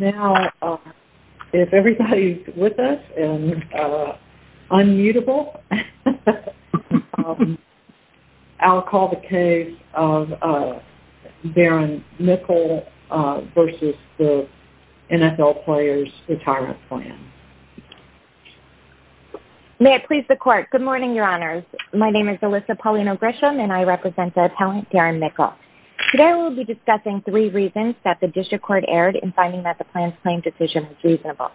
Now, if everybody is with us and unmutable, I'll call the case of Darren Mickell v. the NFL Players Retirement Plan. May it please the Court. Good morning, Your Honors. My name is Alyssa Paulino Grisham and I represent the appellant, Darren Mickell. Today we will be discussing three reasons that the District Court erred in finding that the plan's claim decision was reasonable.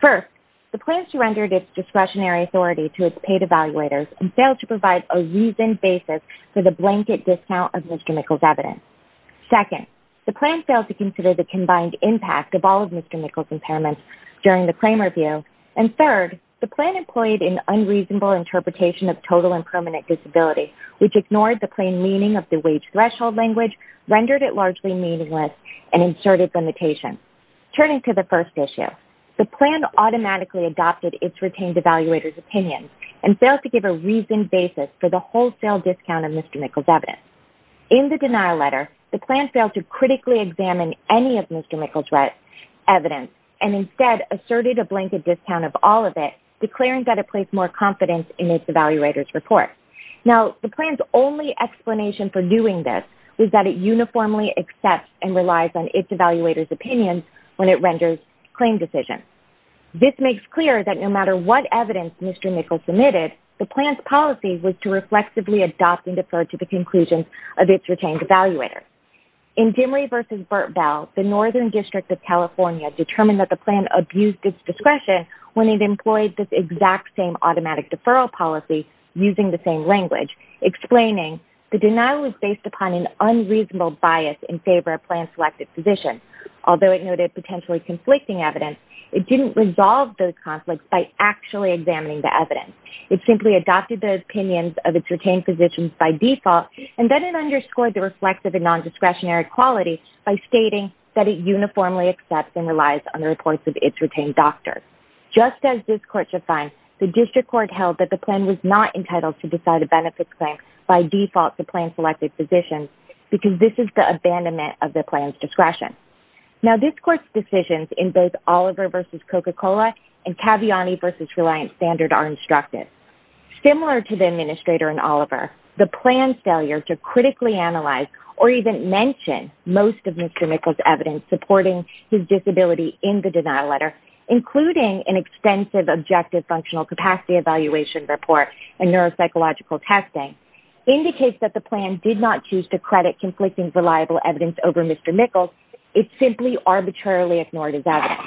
First, the plan surrendered its discretionary authority to its paid evaluators and failed to provide a reasoned basis for the blanket discount of Mr. Mickell's evidence. Second, the plan failed to consider the combined impact of all of Mr. Mickell's impairments during the claim review. And third, the plan employed an unreasonable interpretation of total and permanent disability, which ignored the plain meaning of the wage threshold language, rendered it largely meaningless, and inserted limitations. Turning to the first issue, the plan automatically adopted its retained evaluators' opinions and failed to give a reasoned basis for the wholesale discount of Mr. Mickell's evidence. In the denial letter, the plan failed to critically examine any of Mr. Mickell's evidence and instead asserted a blanket discount of all of it, declaring that it placed more confidence in its evaluators' report. Now, the plan's only explanation for doing this was that it uniformly accepts and relies on its evaluators' opinions when it renders claim decisions. This makes clear that no matter what evidence Mr. Mickell submitted, the plan's policy was to reflexively adopt and defer to the conclusions of its retained evaluators. In Dimry v. Burtbell, the Northern District of California determined that the plan abused its discretion when it employed this exact same automatic deferral policy using the same language, explaining the denial was based upon an unreasonable bias in favor of plan-selected positions. Although it noted potentially conflicting evidence, it didn't resolve those conflicts by actually examining the evidence. It simply adopted the opinions of its retained physicians by default, and then it underscored the reflexive and non-discretionary quality by stating that it uniformly accepts and relies on the reports of its retained doctors. Just as this Court should find, the District Court held that the plan was not entitled to decide a benefits claim by default to plan-selected physicians because this is the abandonment of the plan's discretion. Now, this Court's decisions in both Oliver v. Coca-Cola and Caviani v. Reliant Standard are instructive. Similar to the administrator in Oliver, the plan's failure to critically analyze or even mention most of Mr. Mickles' evidence supporting his disability in the denial letter, including an extensive objective functional capacity evaluation report and neuropsychological testing, indicates that the plan did not choose to credit conflicting reliable evidence over Mr. Mickles. It simply arbitrarily ignored his evidence.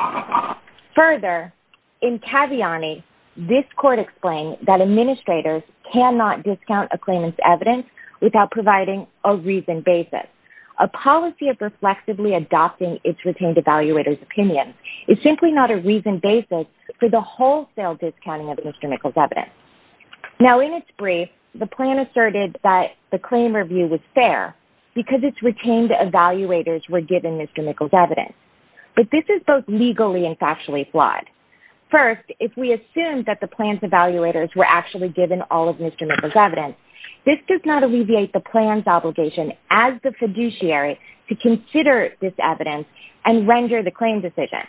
Further, in Caviani, this Court explained that administrators cannot discount a claimant's evidence without providing a reasoned basis. A policy of reflexively adopting its retained evaluators' opinions is simply not a reasoned basis for the wholesale discounting of Mr. Mickles' evidence. Now, in its brief, the plan asserted that the claim review was fair because its retained evaluators were given Mr. Mickles' evidence. But this is both legally and factually flawed. First, if we assume that the plan's evaluators were actually given all of Mr. Mickles' evidence, this does not alleviate the plan's obligation as the fiduciary to consider this evidence and render the claim decision.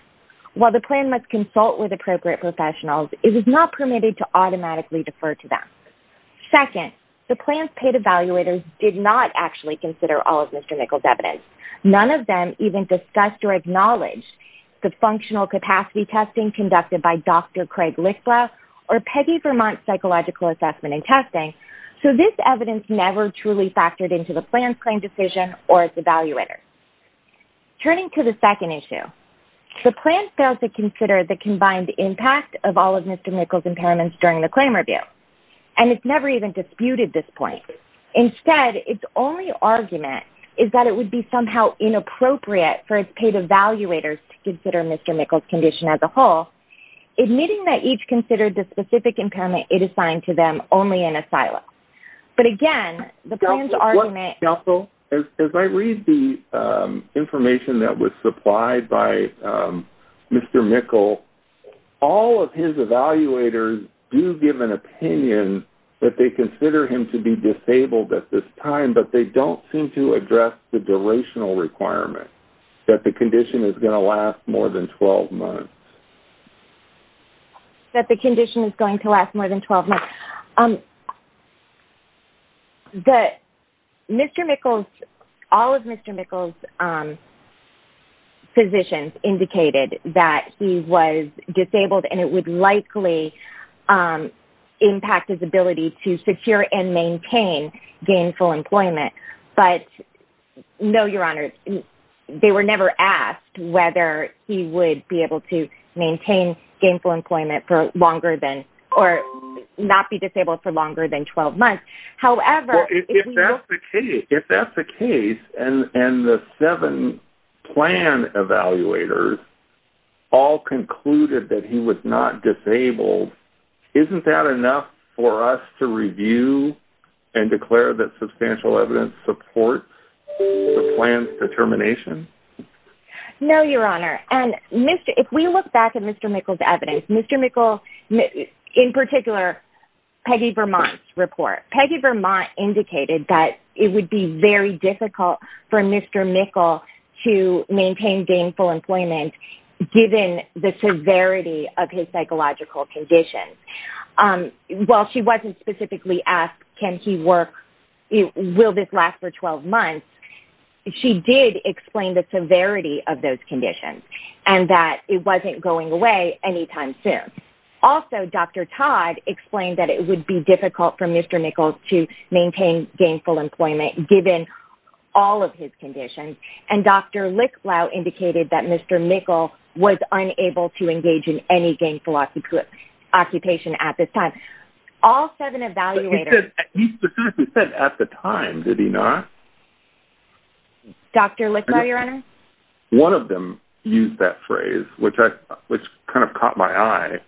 While the plan must consult with appropriate professionals, it was not permitted to automatically defer to them. Second, the plan's paid evaluators did not actually consider all of Mr. Mickles' evidence. None of them even discussed or acknowledged the functional capacity testing conducted by Dr. Craig Lichtblau or Peggy Vermont's psychological assessment and testing. So this evidence never truly factored into the plan's claim decision or its evaluators. Turning to the second issue, the plan failed to consider the combined impact of all of Mr. Mickles' impairments during the claim review. And it's never even disputed this point. Instead, its only argument is that it would be somehow inappropriate for its paid evaluators to consider Mr. Mickles' condition as a whole, admitting that each considered the specific impairment it assigned to them only in a silo. But again, the plan's argument... But they don't seem to address the durational requirement, that the condition is going to last more than 12 months. That the condition is going to last more than 12 months. All of Mr. Mickles' physicians indicated that he was disabled and it would likely impact his ability to secure and maintain gainful employment. But no, Your Honor, they were never asked whether he would be able to maintain gainful employment for longer than... or not be disabled for longer than 12 months. However... If that's the case, and the seven plan evaluators all concluded that he was not disabled, isn't that enough for us to review and declare that substantial evidence supports the plan's determination? No, Your Honor. And if we look back at Mr. Mickles' evidence, Mr. Mickles, in particular, Peggy Vermont's report, Peggy Vermont indicated that it would be very difficult for Mr. Mickles to maintain gainful employment given the severity of his psychological conditions. While she wasn't specifically asked, can he work... will this last for 12 months, she did explain the severity of those conditions and that it wasn't going away anytime soon. Also, Dr. Todd explained that it would be difficult for Mr. Mickles to maintain gainful employment given all of his conditions. And Dr. Licklau indicated that Mr. Mickles was unable to engage in any gainful occupation at this time. All seven evaluators... But he said at the time, did he not? One of them used that phrase, which kind of caught my eye.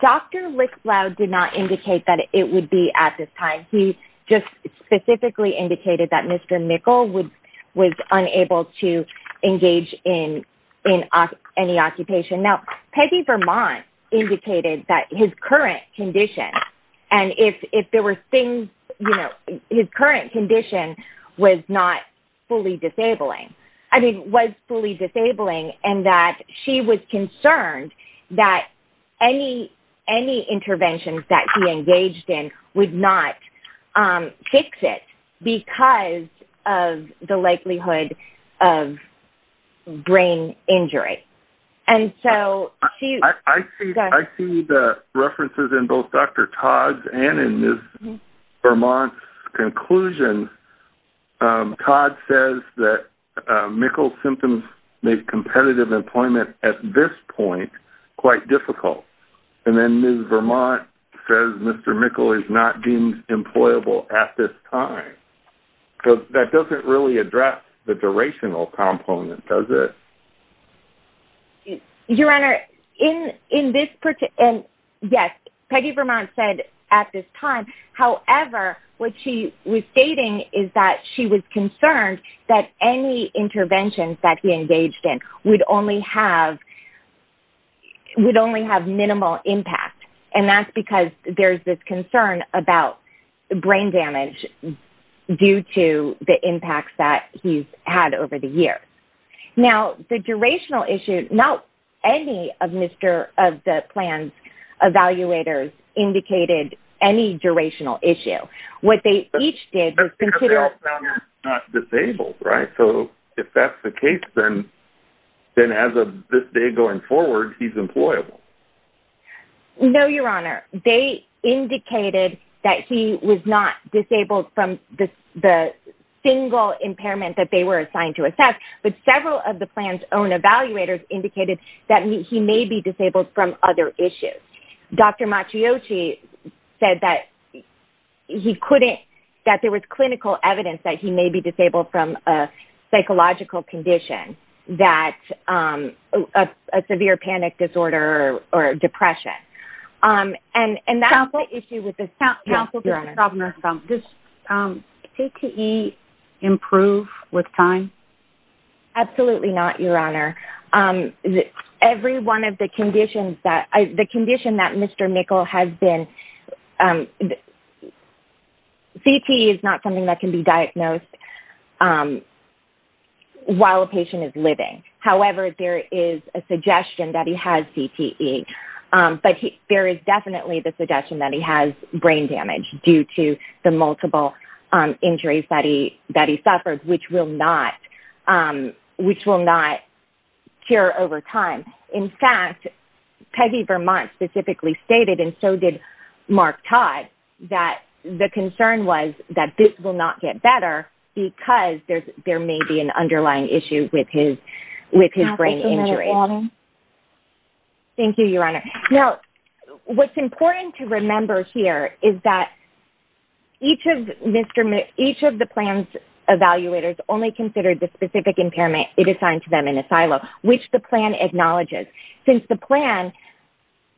Dr. Licklau did not indicate that it would be at this time. He just specifically indicated that Mr. Mickles was unable to engage in any occupation. Now, Peggy Vermont indicated that his current condition and if there were things, you know, his current condition was not fully disabling. I mean, was fully disabling and that she was concerned that any interventions that he engaged in would not fix it because of the likelihood of brain injury. Right. And so she... I see the references in both Dr. Todd's and in Ms. Vermont's conclusions. Todd says that Mickles' symptoms make competitive employment at this point quite difficult. And then Ms. Vermont says Mr. Mickles is not deemed employable at this time. That doesn't really address the durational component, does it? Your Honor, in this... Yes, Peggy Vermont said at this time. However, what she was stating is that she was concerned that any interventions that he engaged in would only have minimal impact. And that's because there's this concern about brain damage due to the impacts that he's had over the years. Now, the durational issue, not any of the plan's evaluators indicated any durational issue. What they each did was consider... Because they all found him not disabled, right? So if that's the case, then as of this day going forward, he's employable. No, Your Honor. They indicated that he was not disabled from the single impairment that they were assigned to assess. But several of the plan's own evaluators indicated that he may be disabled from other issues. Dr. Macchiotti said that he couldn't... That there was clinical evidence that he may be disabled from a psychological condition that... A severe panic disorder or depression. And that's the issue with this... Counsel? Counsel? Yes, Your Honor. Does TTE improve with time? Absolutely not, Your Honor. Every one of the conditions that... The condition that Mr. Nickel has been... TTE is not something that can be diagnosed while a patient is living. However, there is a suggestion that he has TTE. But there is definitely the suggestion that he has brain damage due to the multiple injuries that he suffered, which will not cure over time. In fact, Peggy Vermont specifically stated, and so did Mark Todd, that the concern was that this will not get better because there may be an underlying issue with his brain injury. Thank you, Your Honor. Now, what's important to remember here is that each of the plan's evaluators only considered the specific impairment it assigned to them in a silo, which the plan acknowledges. Since the plan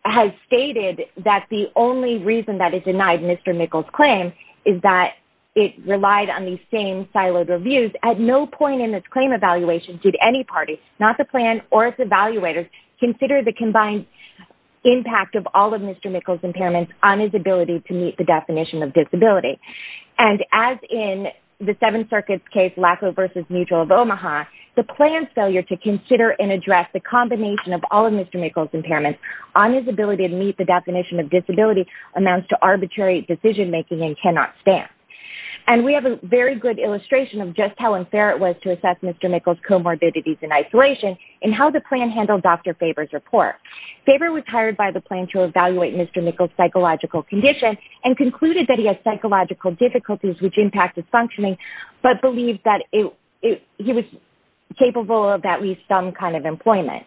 has stated that the only reason that it denied Mr. Nickel's claim is that it relied on these same siloed reviews, at no point in this claim evaluation did any party, not the plan or its evaluators, consider the combined impact of all of Mr. Nickel's impairments on his ability to meet the definition of disability. And as in the Seventh Circuit's case, Laco versus Mutual of Omaha, the plan's failure to consider and address the combination of all of Mr. Nickel's impairments on his ability to meet the definition of disability amounts to arbitrary decision-making and cannot stand. And we have a very good illustration of just how unfair it was to assess Mr. Nickel's comorbidities in isolation in how the plan handled Dr. Faber's report. Faber was hired by the plan to evaluate Mr. Nickel's psychological condition and concluded that he had psychological difficulties, which impacted functioning, but believed that he was capable of at least some kind of employment.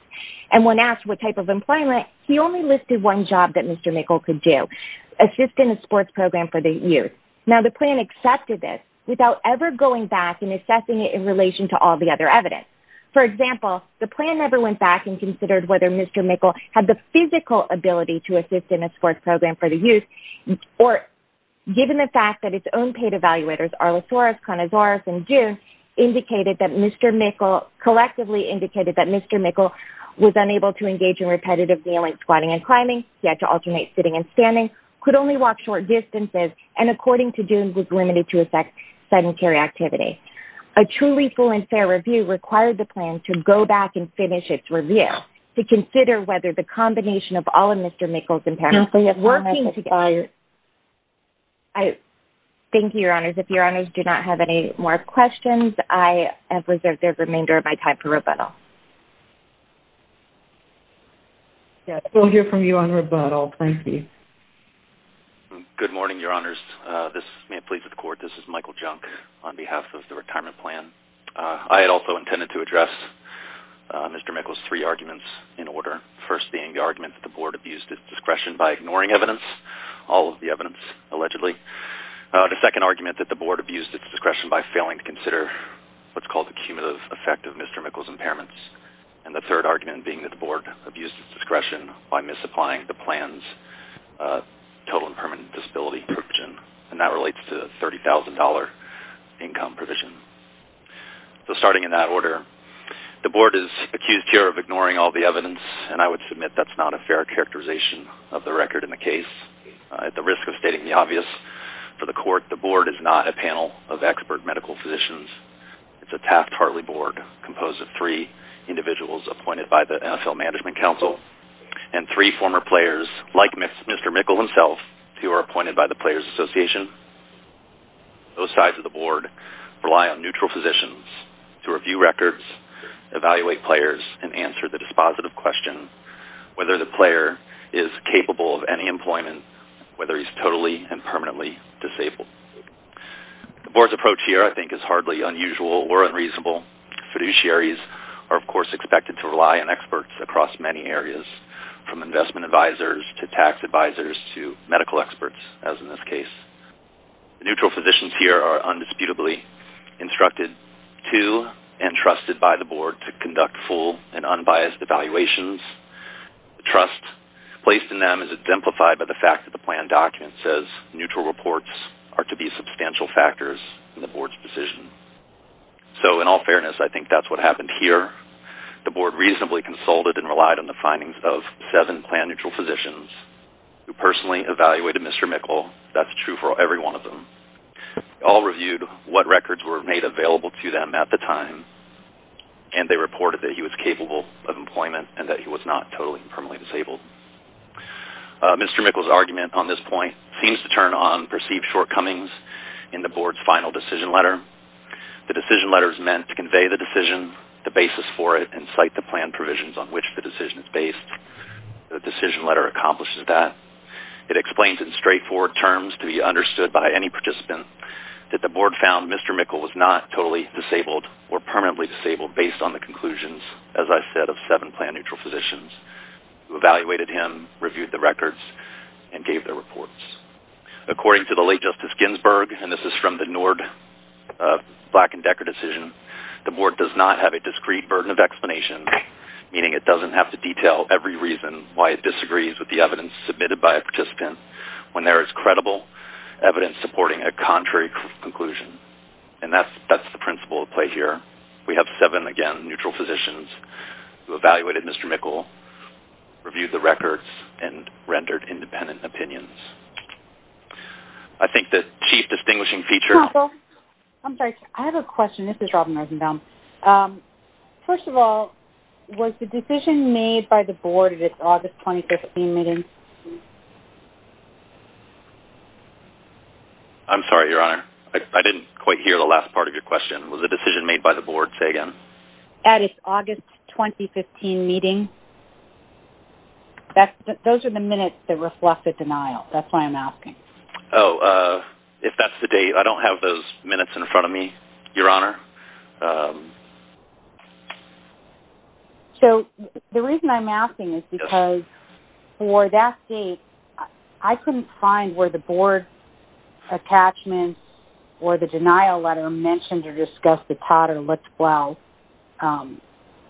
And when asked what type of employment, he only listed one job that Mr. Nickel could do, assist in a sports program for the youth. Now, the plan accepted this without ever going back and assessing it in relation to all the other evidence. For example, the plan never went back and considered whether Mr. Nickel had the physical ability to assist in a sports program for the youth or, given the fact that its own paid evaluators, Arlissaurus, Conazaurus, and June, collectively indicated that Mr. Nickel was unable to engage in repetitive kneeling, squatting, and climbing. He had to alternate sitting and standing, could only walk short distances, and, according to June, was limited to effect sedentary activity. A truly full and fair review required the plan to go back and finish its review to consider whether the combination of all of Mr. Nickel's impairments were working together. Thank you, Your Honors. If Your Honors do not have any more questions, I have reserved the remainder of my time for rebuttal. We'll hear from you on rebuttal. Thank you. Good morning, Your Honors. This is Mayor Plea for the Court. This is Michael Junk on behalf of the retirement plan. I had also intended to address Mr. Nickel's three arguments in order, the first being the argument that the Board abused its discretion by ignoring evidence, all of the evidence allegedly, the second argument that the Board abused its discretion by failing to consider what's called the cumulative effect of Mr. Nickel's impairments, and the third argument being that the Board abused its discretion by misapplying the plan's total and permanent disability provision. And that relates to the $30,000 income provision. So starting in that order, the Board is accused here of ignoring all the evidence, and I would submit that's not a fair characterization of the record in the case. At the risk of stating the obvious for the Court, the Board is not a panel of expert medical physicians. It's a Taft-Hartley Board composed of three individuals appointed by the NFL Management Council and three former players, like Mr. Nickel himself, who are appointed by the Players Association. Both sides of the Board rely on neutral physicians to review records, evaluate players, and answer the dispositive question whether the player is capable of any employment, whether he's totally and permanently disabled. The Board's approach here, I think, is hardly unusual or unreasonable. Fiduciaries are, of course, expected to rely on experts across many areas, from investment advisors to tax advisors to medical experts, as in this case. Neutral physicians here are undisputably instructed to and trusted by the Board to conduct full and unbiased evaluations. The trust placed in them is exemplified by the fact that the plan document says neutral reports are to be substantial factors in the Board's decision. So, in all fairness, I think that's what happened here. The Board reasonably consulted and relied on the findings of seven plan-neutral physicians who personally evaluated Mr. Nickel. That's true for every one of them. They all reviewed what records were made available to them at the time, and they reported that he was capable of employment and that he was not totally and permanently disabled. Mr. Nickel's argument on this point seems to turn on perceived shortcomings in the Board's final decision letter. The decision letter is meant to convey the decision, the basis for it, and cite the plan provisions on which the decision is based. The decision letter accomplishes that. It explains in straightforward terms to be understood by any participant that the Board found Mr. Nickel was not totally disabled or permanently disabled based on the conclusions, as I said, of seven plan-neutral physicians who evaluated him, reviewed the records, and gave their reports. According to the late Justice Ginsburg, and this is from the Nord, Black and Decker decision, the Board does not have a discrete burden of explanation, meaning it doesn't have to detail every reason why it disagrees with the evidence submitted by a participant when there is credible evidence supporting a contrary conclusion. And that's the principle at play here. We have seven, again, neutral physicians who evaluated Mr. Nickel, reviewed the records, and rendered independent opinions. I think the chief distinguishing feature... Counsel, I'm sorry. I have a question. This is Robin Risenbaum. First of all, was the decision made by the Board at its August 2015 meeting? I'm sorry, Your Honor. I didn't quite hear the last part of your question. Was the decision made by the Board, say again? At its August 2015 meeting? Those are the minutes that reflect the denial. That's why I'm asking. Oh, if that's the date. I don't have those minutes in front of me, Your Honor. So the reason I'm asking is because for that date, I couldn't find where the Board attachments or the denial letter mentioned or discussed the Todd or Lichtblau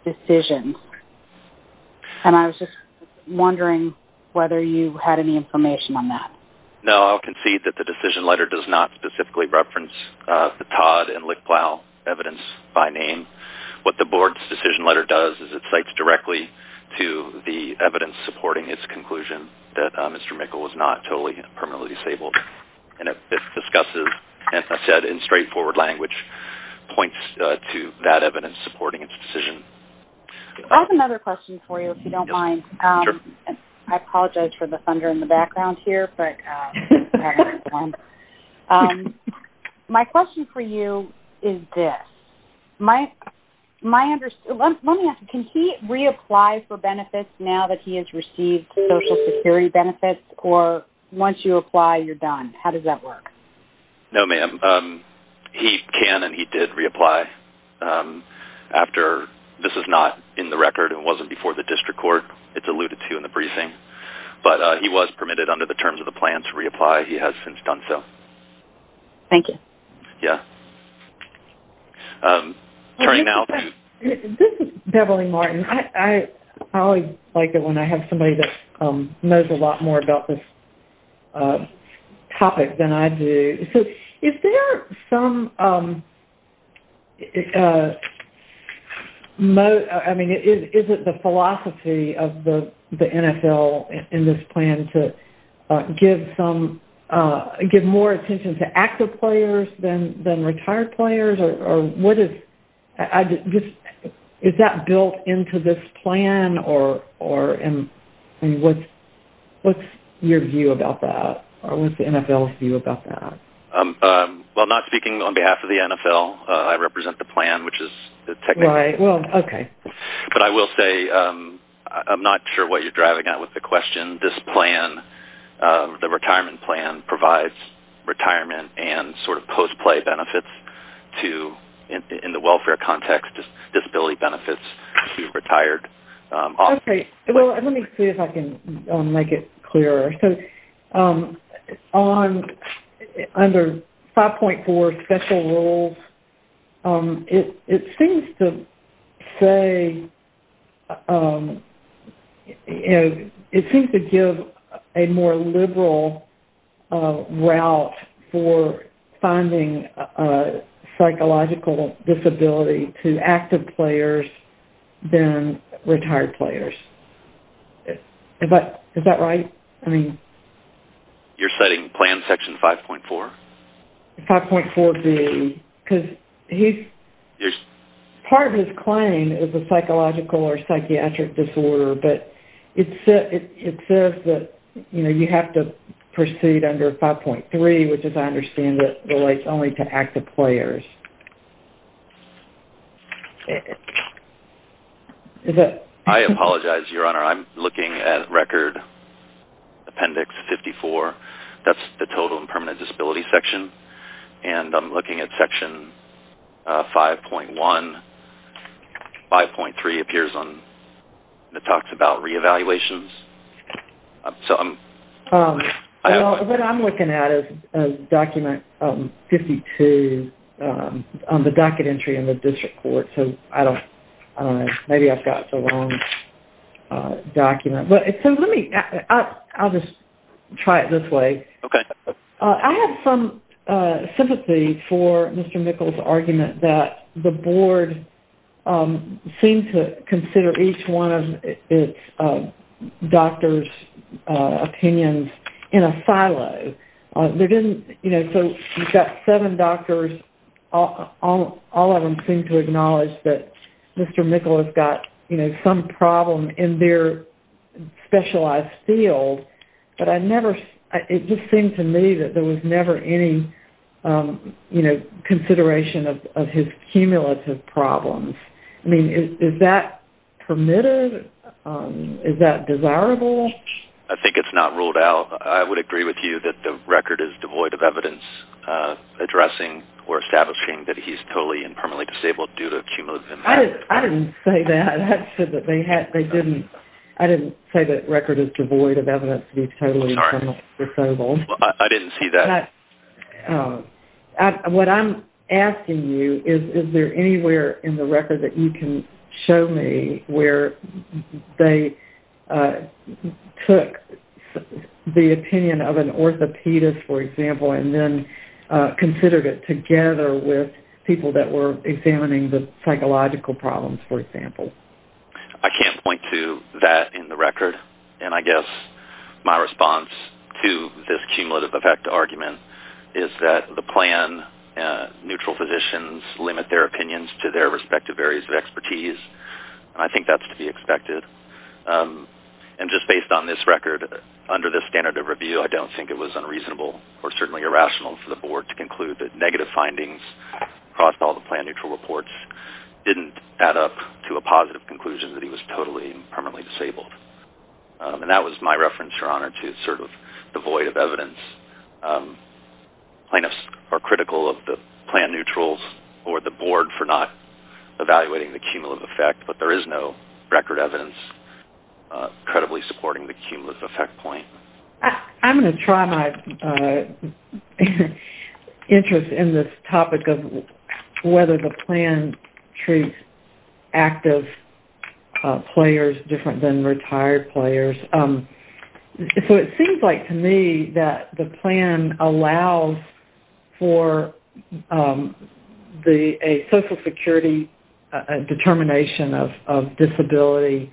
decisions. And I was just wondering whether you had any information on that. No, I'll concede that the decision letter does not specifically reference the Todd and Lichtblau evidence by name. What the Board's decision letter does is it cites directly to the evidence supporting its conclusion that Mr. Mikkel was not totally and permanently disabled. And it discusses, as I said, in straightforward language, points to that evidence supporting its decision. I have another question for you, if you don't mind. I apologize for the thunder in the background here. My question for you is this. Let me ask you, can he reapply for benefits now that he has received Social Security benefits? Or once you apply, you're done? How does that work? No, ma'am. He can and he did reapply. This is not in the record. It wasn't before the district court. It's alluded to in the briefing. But he was permitted under the terms of the plan to reapply. He has since done so. Thank you. Yeah. This is Beverly Martin. I always like it when I have somebody that knows a lot more about this topic than I do. So is there some... I mean, is it the philosophy of the NFL in this plan to give more attention to active players than retired players? Or what is... Is that built into this plan? Or what's your view about that? Or what's the NFL's view about that? Well, not speaking on behalf of the NFL, I represent the plan, which is the technical... Right. Well, okay. But I will say, I'm not sure what you're driving at with the question. This plan, the retirement plan, provides retirement and sort of post-play benefits to, in the welfare context, disability benefits to retired... Okay. Well, let me see if I can make it clearer. So under 5.4 special rules, it seems to say... It seems to give a more liberal route for finding psychological disability to active players than retired players. Is that right? I mean... You're citing plan section 5.4? 5.4B, because part of his claim is a psychological or psychiatric disorder, but it says that you have to proceed under 5.3, which as I understand it, relates only to active players. I apologize, Your Honor. I'm looking at Record Appendix 54. That's the total and permanent disability section. And I'm looking at Section 5.1. 5.3 appears on... It talks about re-evaluations. What I'm looking at is Document 52 on the docket entry in the district court, so I don't know. Maybe I've got the wrong document. I'll just try it this way. I have some sympathy for Mr. Mikkel's argument that the board seemed to consider each one of its doctors' opinions in a silo. So you've got seven doctors. All of them seem to acknowledge that Mr. Mikkel has got some problem in their specialized field, but it just seemed to me that there was never any consideration of his cumulative problems. I mean, is that permitted? Is that desirable? I think it's not ruled out. I would agree with you that the record is devoid of evidence addressing or establishing that he's totally and permanently disabled due to cumulative impact. I didn't say that. I didn't say that record is devoid of evidence that he's totally and permanently disabled. I didn't see that. What I'm asking you is, is there anywhere in the record that you can show me where they took the opinion of an orthopedist, for example, and then considered it together with people that were examining the psychological problems, for example? I can't point to that in the record, and I guess my response to this cumulative effect argument is that the plan-neutral physicians limit their opinions to their respective areas of expertise, and I think that's to be expected. And just based on this record, under the standard of review, I don't think it was unreasonable or certainly irrational for the board to conclude that negative findings across all the plan-neutral reports didn't add up to a positive conclusion that he was totally and permanently disabled. And that was my reference, Your Honor, to sort of the void of evidence. Plaintiffs are critical of the plan-neutrals or the board for not evaluating the cumulative effect, but there is no record evidence credibly supporting the cumulative effect point. I'm going to try my interest in this topic of whether the plan treats active players different than retired players. So it seems like to me that the plan allows for a social security determination of disability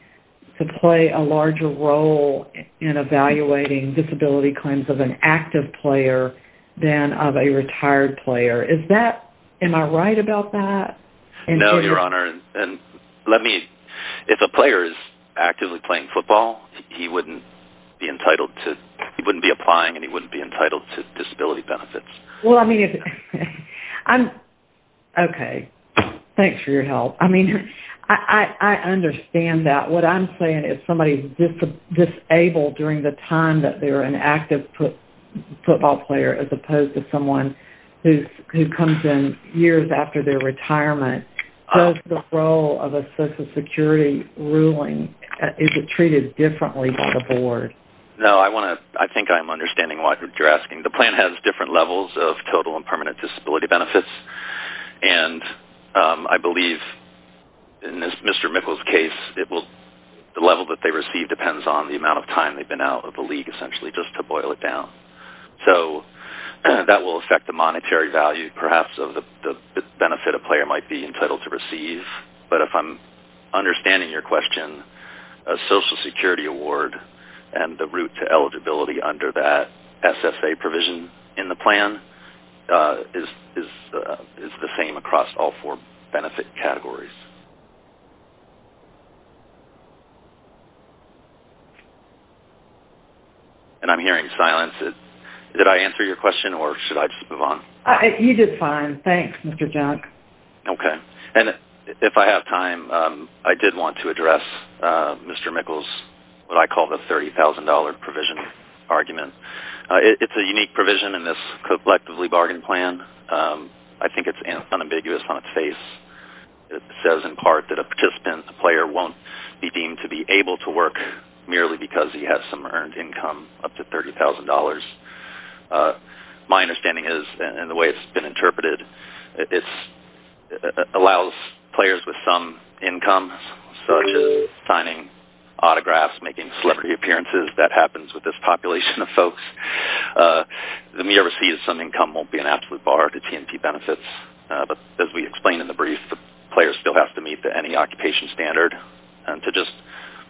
to play a larger role in evaluating disability claims of an active player than of a retired player. Am I right about that? No, Your Honor. And let me, if a player is actively playing football, he wouldn't be entitled to, he wouldn't be applying and he wouldn't be entitled to disability benefits. Okay. Thanks for your help. I mean, I understand that. What I'm saying is if somebody is disabled during the time that they're an active football player as opposed to someone who comes in years after their retirement, does the role of a social security ruling, is it treated differently by the board? No, I want to, I think I'm understanding what you're asking. The plan has different levels of total and permanent disability benefits. And I believe in Mr. Mickle's case, the level that they receive depends on the amount of time they've been out of the league essentially just to boil it down. So that will affect the monetary value perhaps of the benefit a player might be entitled to receive. But if I'm understanding your question, a social security award and the route to eligibility under that SSA provision in the plan is the same across all four benefit categories. And I'm hearing silence. Did I answer your question or should I just move on? You did fine. Thanks, Mr. Junk. Okay. And if I have time, I did want to address Mr. Mickle's what I call the $30,000 provision argument. It's a unique provision in this collectively bargained plan. I think it's unambiguous on its face. It says in part that a participant, a player, won't be deemed to be able to work merely because he has some earned income up to $30,000. My understanding is, and the way it's been interpreted, it allows players with some income, such as signing autographs, making celebrity appearances, that happens with this population of folks. The mere receipt of some income won't be an absolute bar to T&T benefits. But as we explained in the brief, the player still has to meet the NE occupation standard. And to just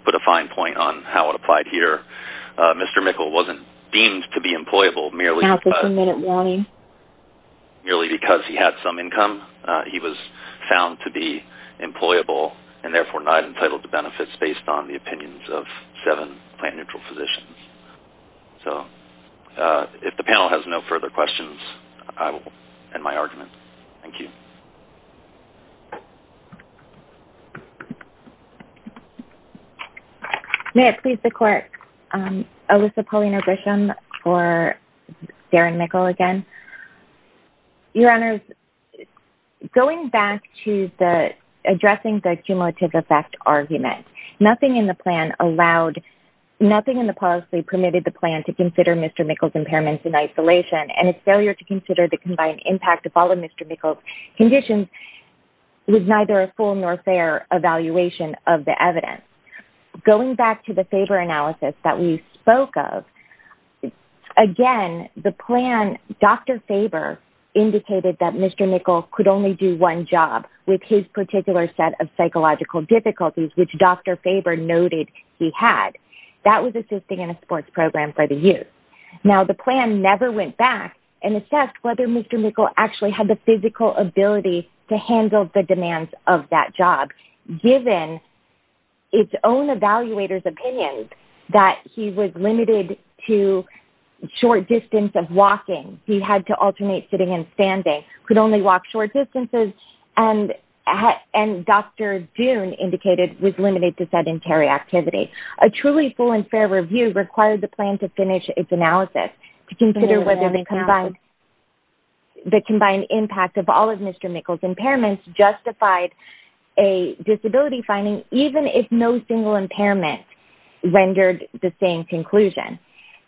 put a fine point on how it applied here, Mr. Mickle wasn't deemed to be employable merely because he had some income. He was found to be employable and therefore not entitled to benefits based on the opinions of seven plan-neutral physicians. So, if the panel has no further questions, I will end my argument. Thank you. May it please the court, Alyssa Paulina Grisham for Darren Mickle again. Your Honor, going back to addressing the cumulative effect argument, nothing in the policy permitted the plan to consider Mr. Mickle's impairments in isolation. And its failure to consider the combined impact of all of Mr. Mickle's conditions was neither a full nor fair evaluation of the evidence. Going back to the Faber analysis that we spoke of, again, the plan, Dr. Faber indicated that Mr. Mickle could only do one job with his particular set of psychological difficulties, which Dr. Faber noted he had. That was assisting in a sports program for the youth. Now, the plan never went back and assessed whether Mr. Mickle actually had the physical ability to handle the demands of that job, given its own evaluator's opinion that he was limited to short distance of walking. He had to alternate sitting and standing, could only walk short distances, and Dr. Dunn indicated was limited to sedentary activity. A truly full and fair review required the plan to finish its analysis to consider whether the combined impact of all of Mr. Mickle's impairments justified a disability finding, even if no single impairment rendered the same conclusion.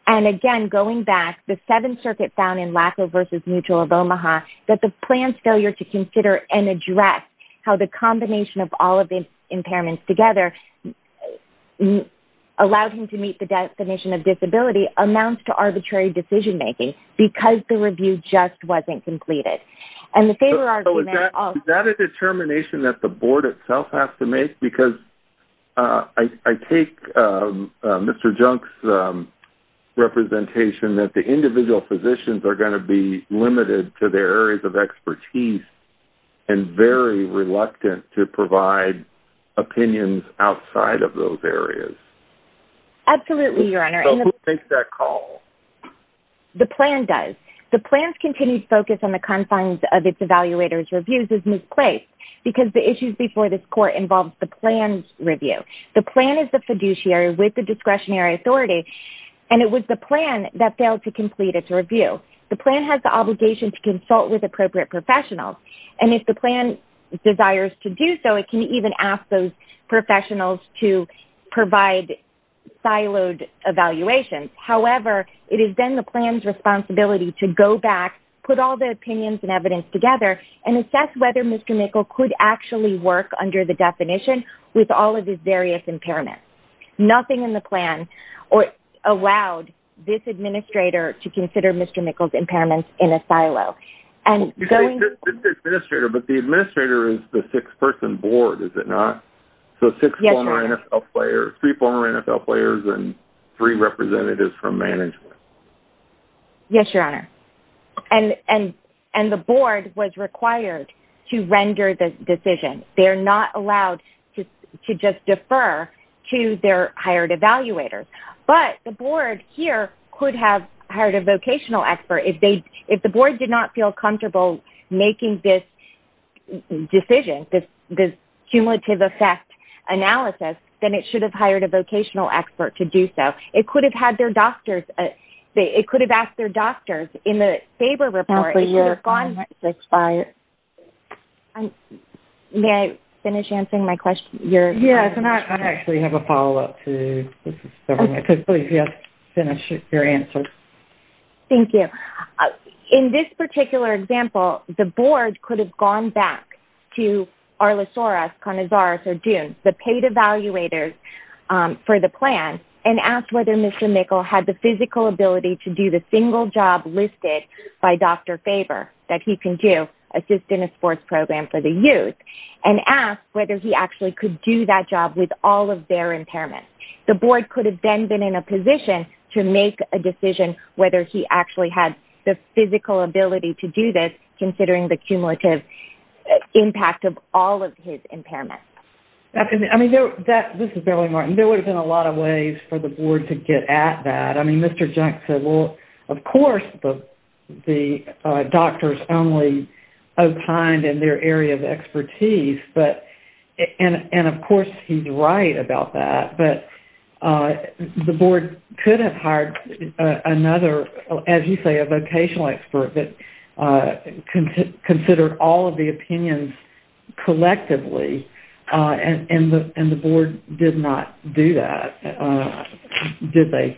And again, going back, the Seventh Circuit found in Laco versus Mutual of Omaha that the plan's failure to consider and address how the combination of all of the impairments together allowed him to meet the definition of disability amounts to arbitrary decision making because the review just wasn't completed. Is that a determination that the board itself has to make? Because I take Mr. Junk's representation that the individual physicians are going to be limited to their areas of expertise and very reluctant to provide opinions outside of those areas. Absolutely, Your Honor. Who makes that call? The plan does. The plan's continued focus on the confines of its evaluator's reviews is misplaced because the issues before this court involved the plan's review. The plan is the fiduciary with the discretionary authority, and it was the plan that failed to complete its review. The plan has the obligation to consult with appropriate professionals, and if the plan desires to do so, it can even ask those professionals to provide siloed evaluations. However, it has been the plan's responsibility to go back, put all the opinions and evidence together, and assess whether Mr. Nickel could actually work under the definition with all of his various impairments. Nothing in the plan allowed this administrator to consider Mr. Nickel's impairments in a silo. But the administrator is the six-person board, is it not? Yes, Your Honor. So three former NFL players and three representatives from management. Yes, Your Honor. And the board was required to render the decision. They're not allowed to just defer to their hired evaluators. But the board here could have hired a vocational expert. If the board did not feel comfortable making this decision, this cumulative effect analysis, then it should have hired a vocational expert to do so. It could have had their doctors. It could have asked their doctors. Counselor, your time has expired. May I finish answering my question? Yes, Your Honor. I actually have a follow-up to this. Please, yes, finish your answer. Thank you. In this particular example, the board could have gone back to Arlesoras, Canizares, or Dunes, the paid evaluators for the plan, and asked whether Mr. Nickel had the physical ability to do the single job listed by Dr. Faber that he can do, assist in a sports program for the youth, and asked whether he actually could do that job with all of their impairments. The board could have then been in a position to make a decision whether he actually had the physical ability to do this, considering the cumulative impact of all of his impairments. I mean, this is Beryl Martin. There would have been a lot of ways for the board to get at that. I mean, Mr. Junk said, well, of course the doctors only opined in their area of expertise, and of course he's right about that. The board could have hired another, as you say, a vocational expert that considered all of the opinions collectively, and the board did not do that, did they?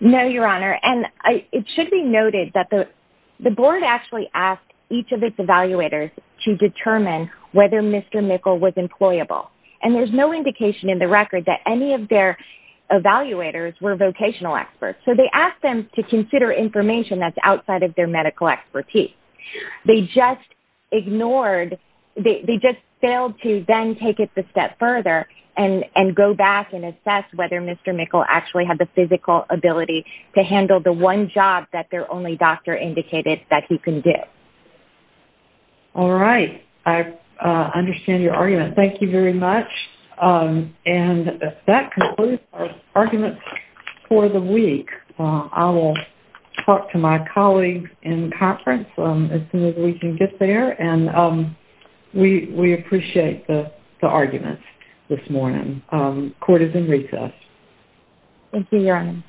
No, Your Honor. And it should be noted that the board actually asked each of its evaluators to determine whether Mr. Nickel was employable, and there's no indication in the record that any of their evaluators were vocational experts. So they asked them to consider information that's outside of their medical expertise. They just ignored, they just failed to then take it a step further and go back and assess whether Mr. Nickel actually had the physical ability to handle the one job that their only doctor indicated that he could do. All right. I understand your argument. Thank you very much. And that concludes our arguments for the week. I will talk to my colleagues in conference as soon as we can get there, and we appreciate the arguments this morning. Court is in recess. Thank you, Your Honor.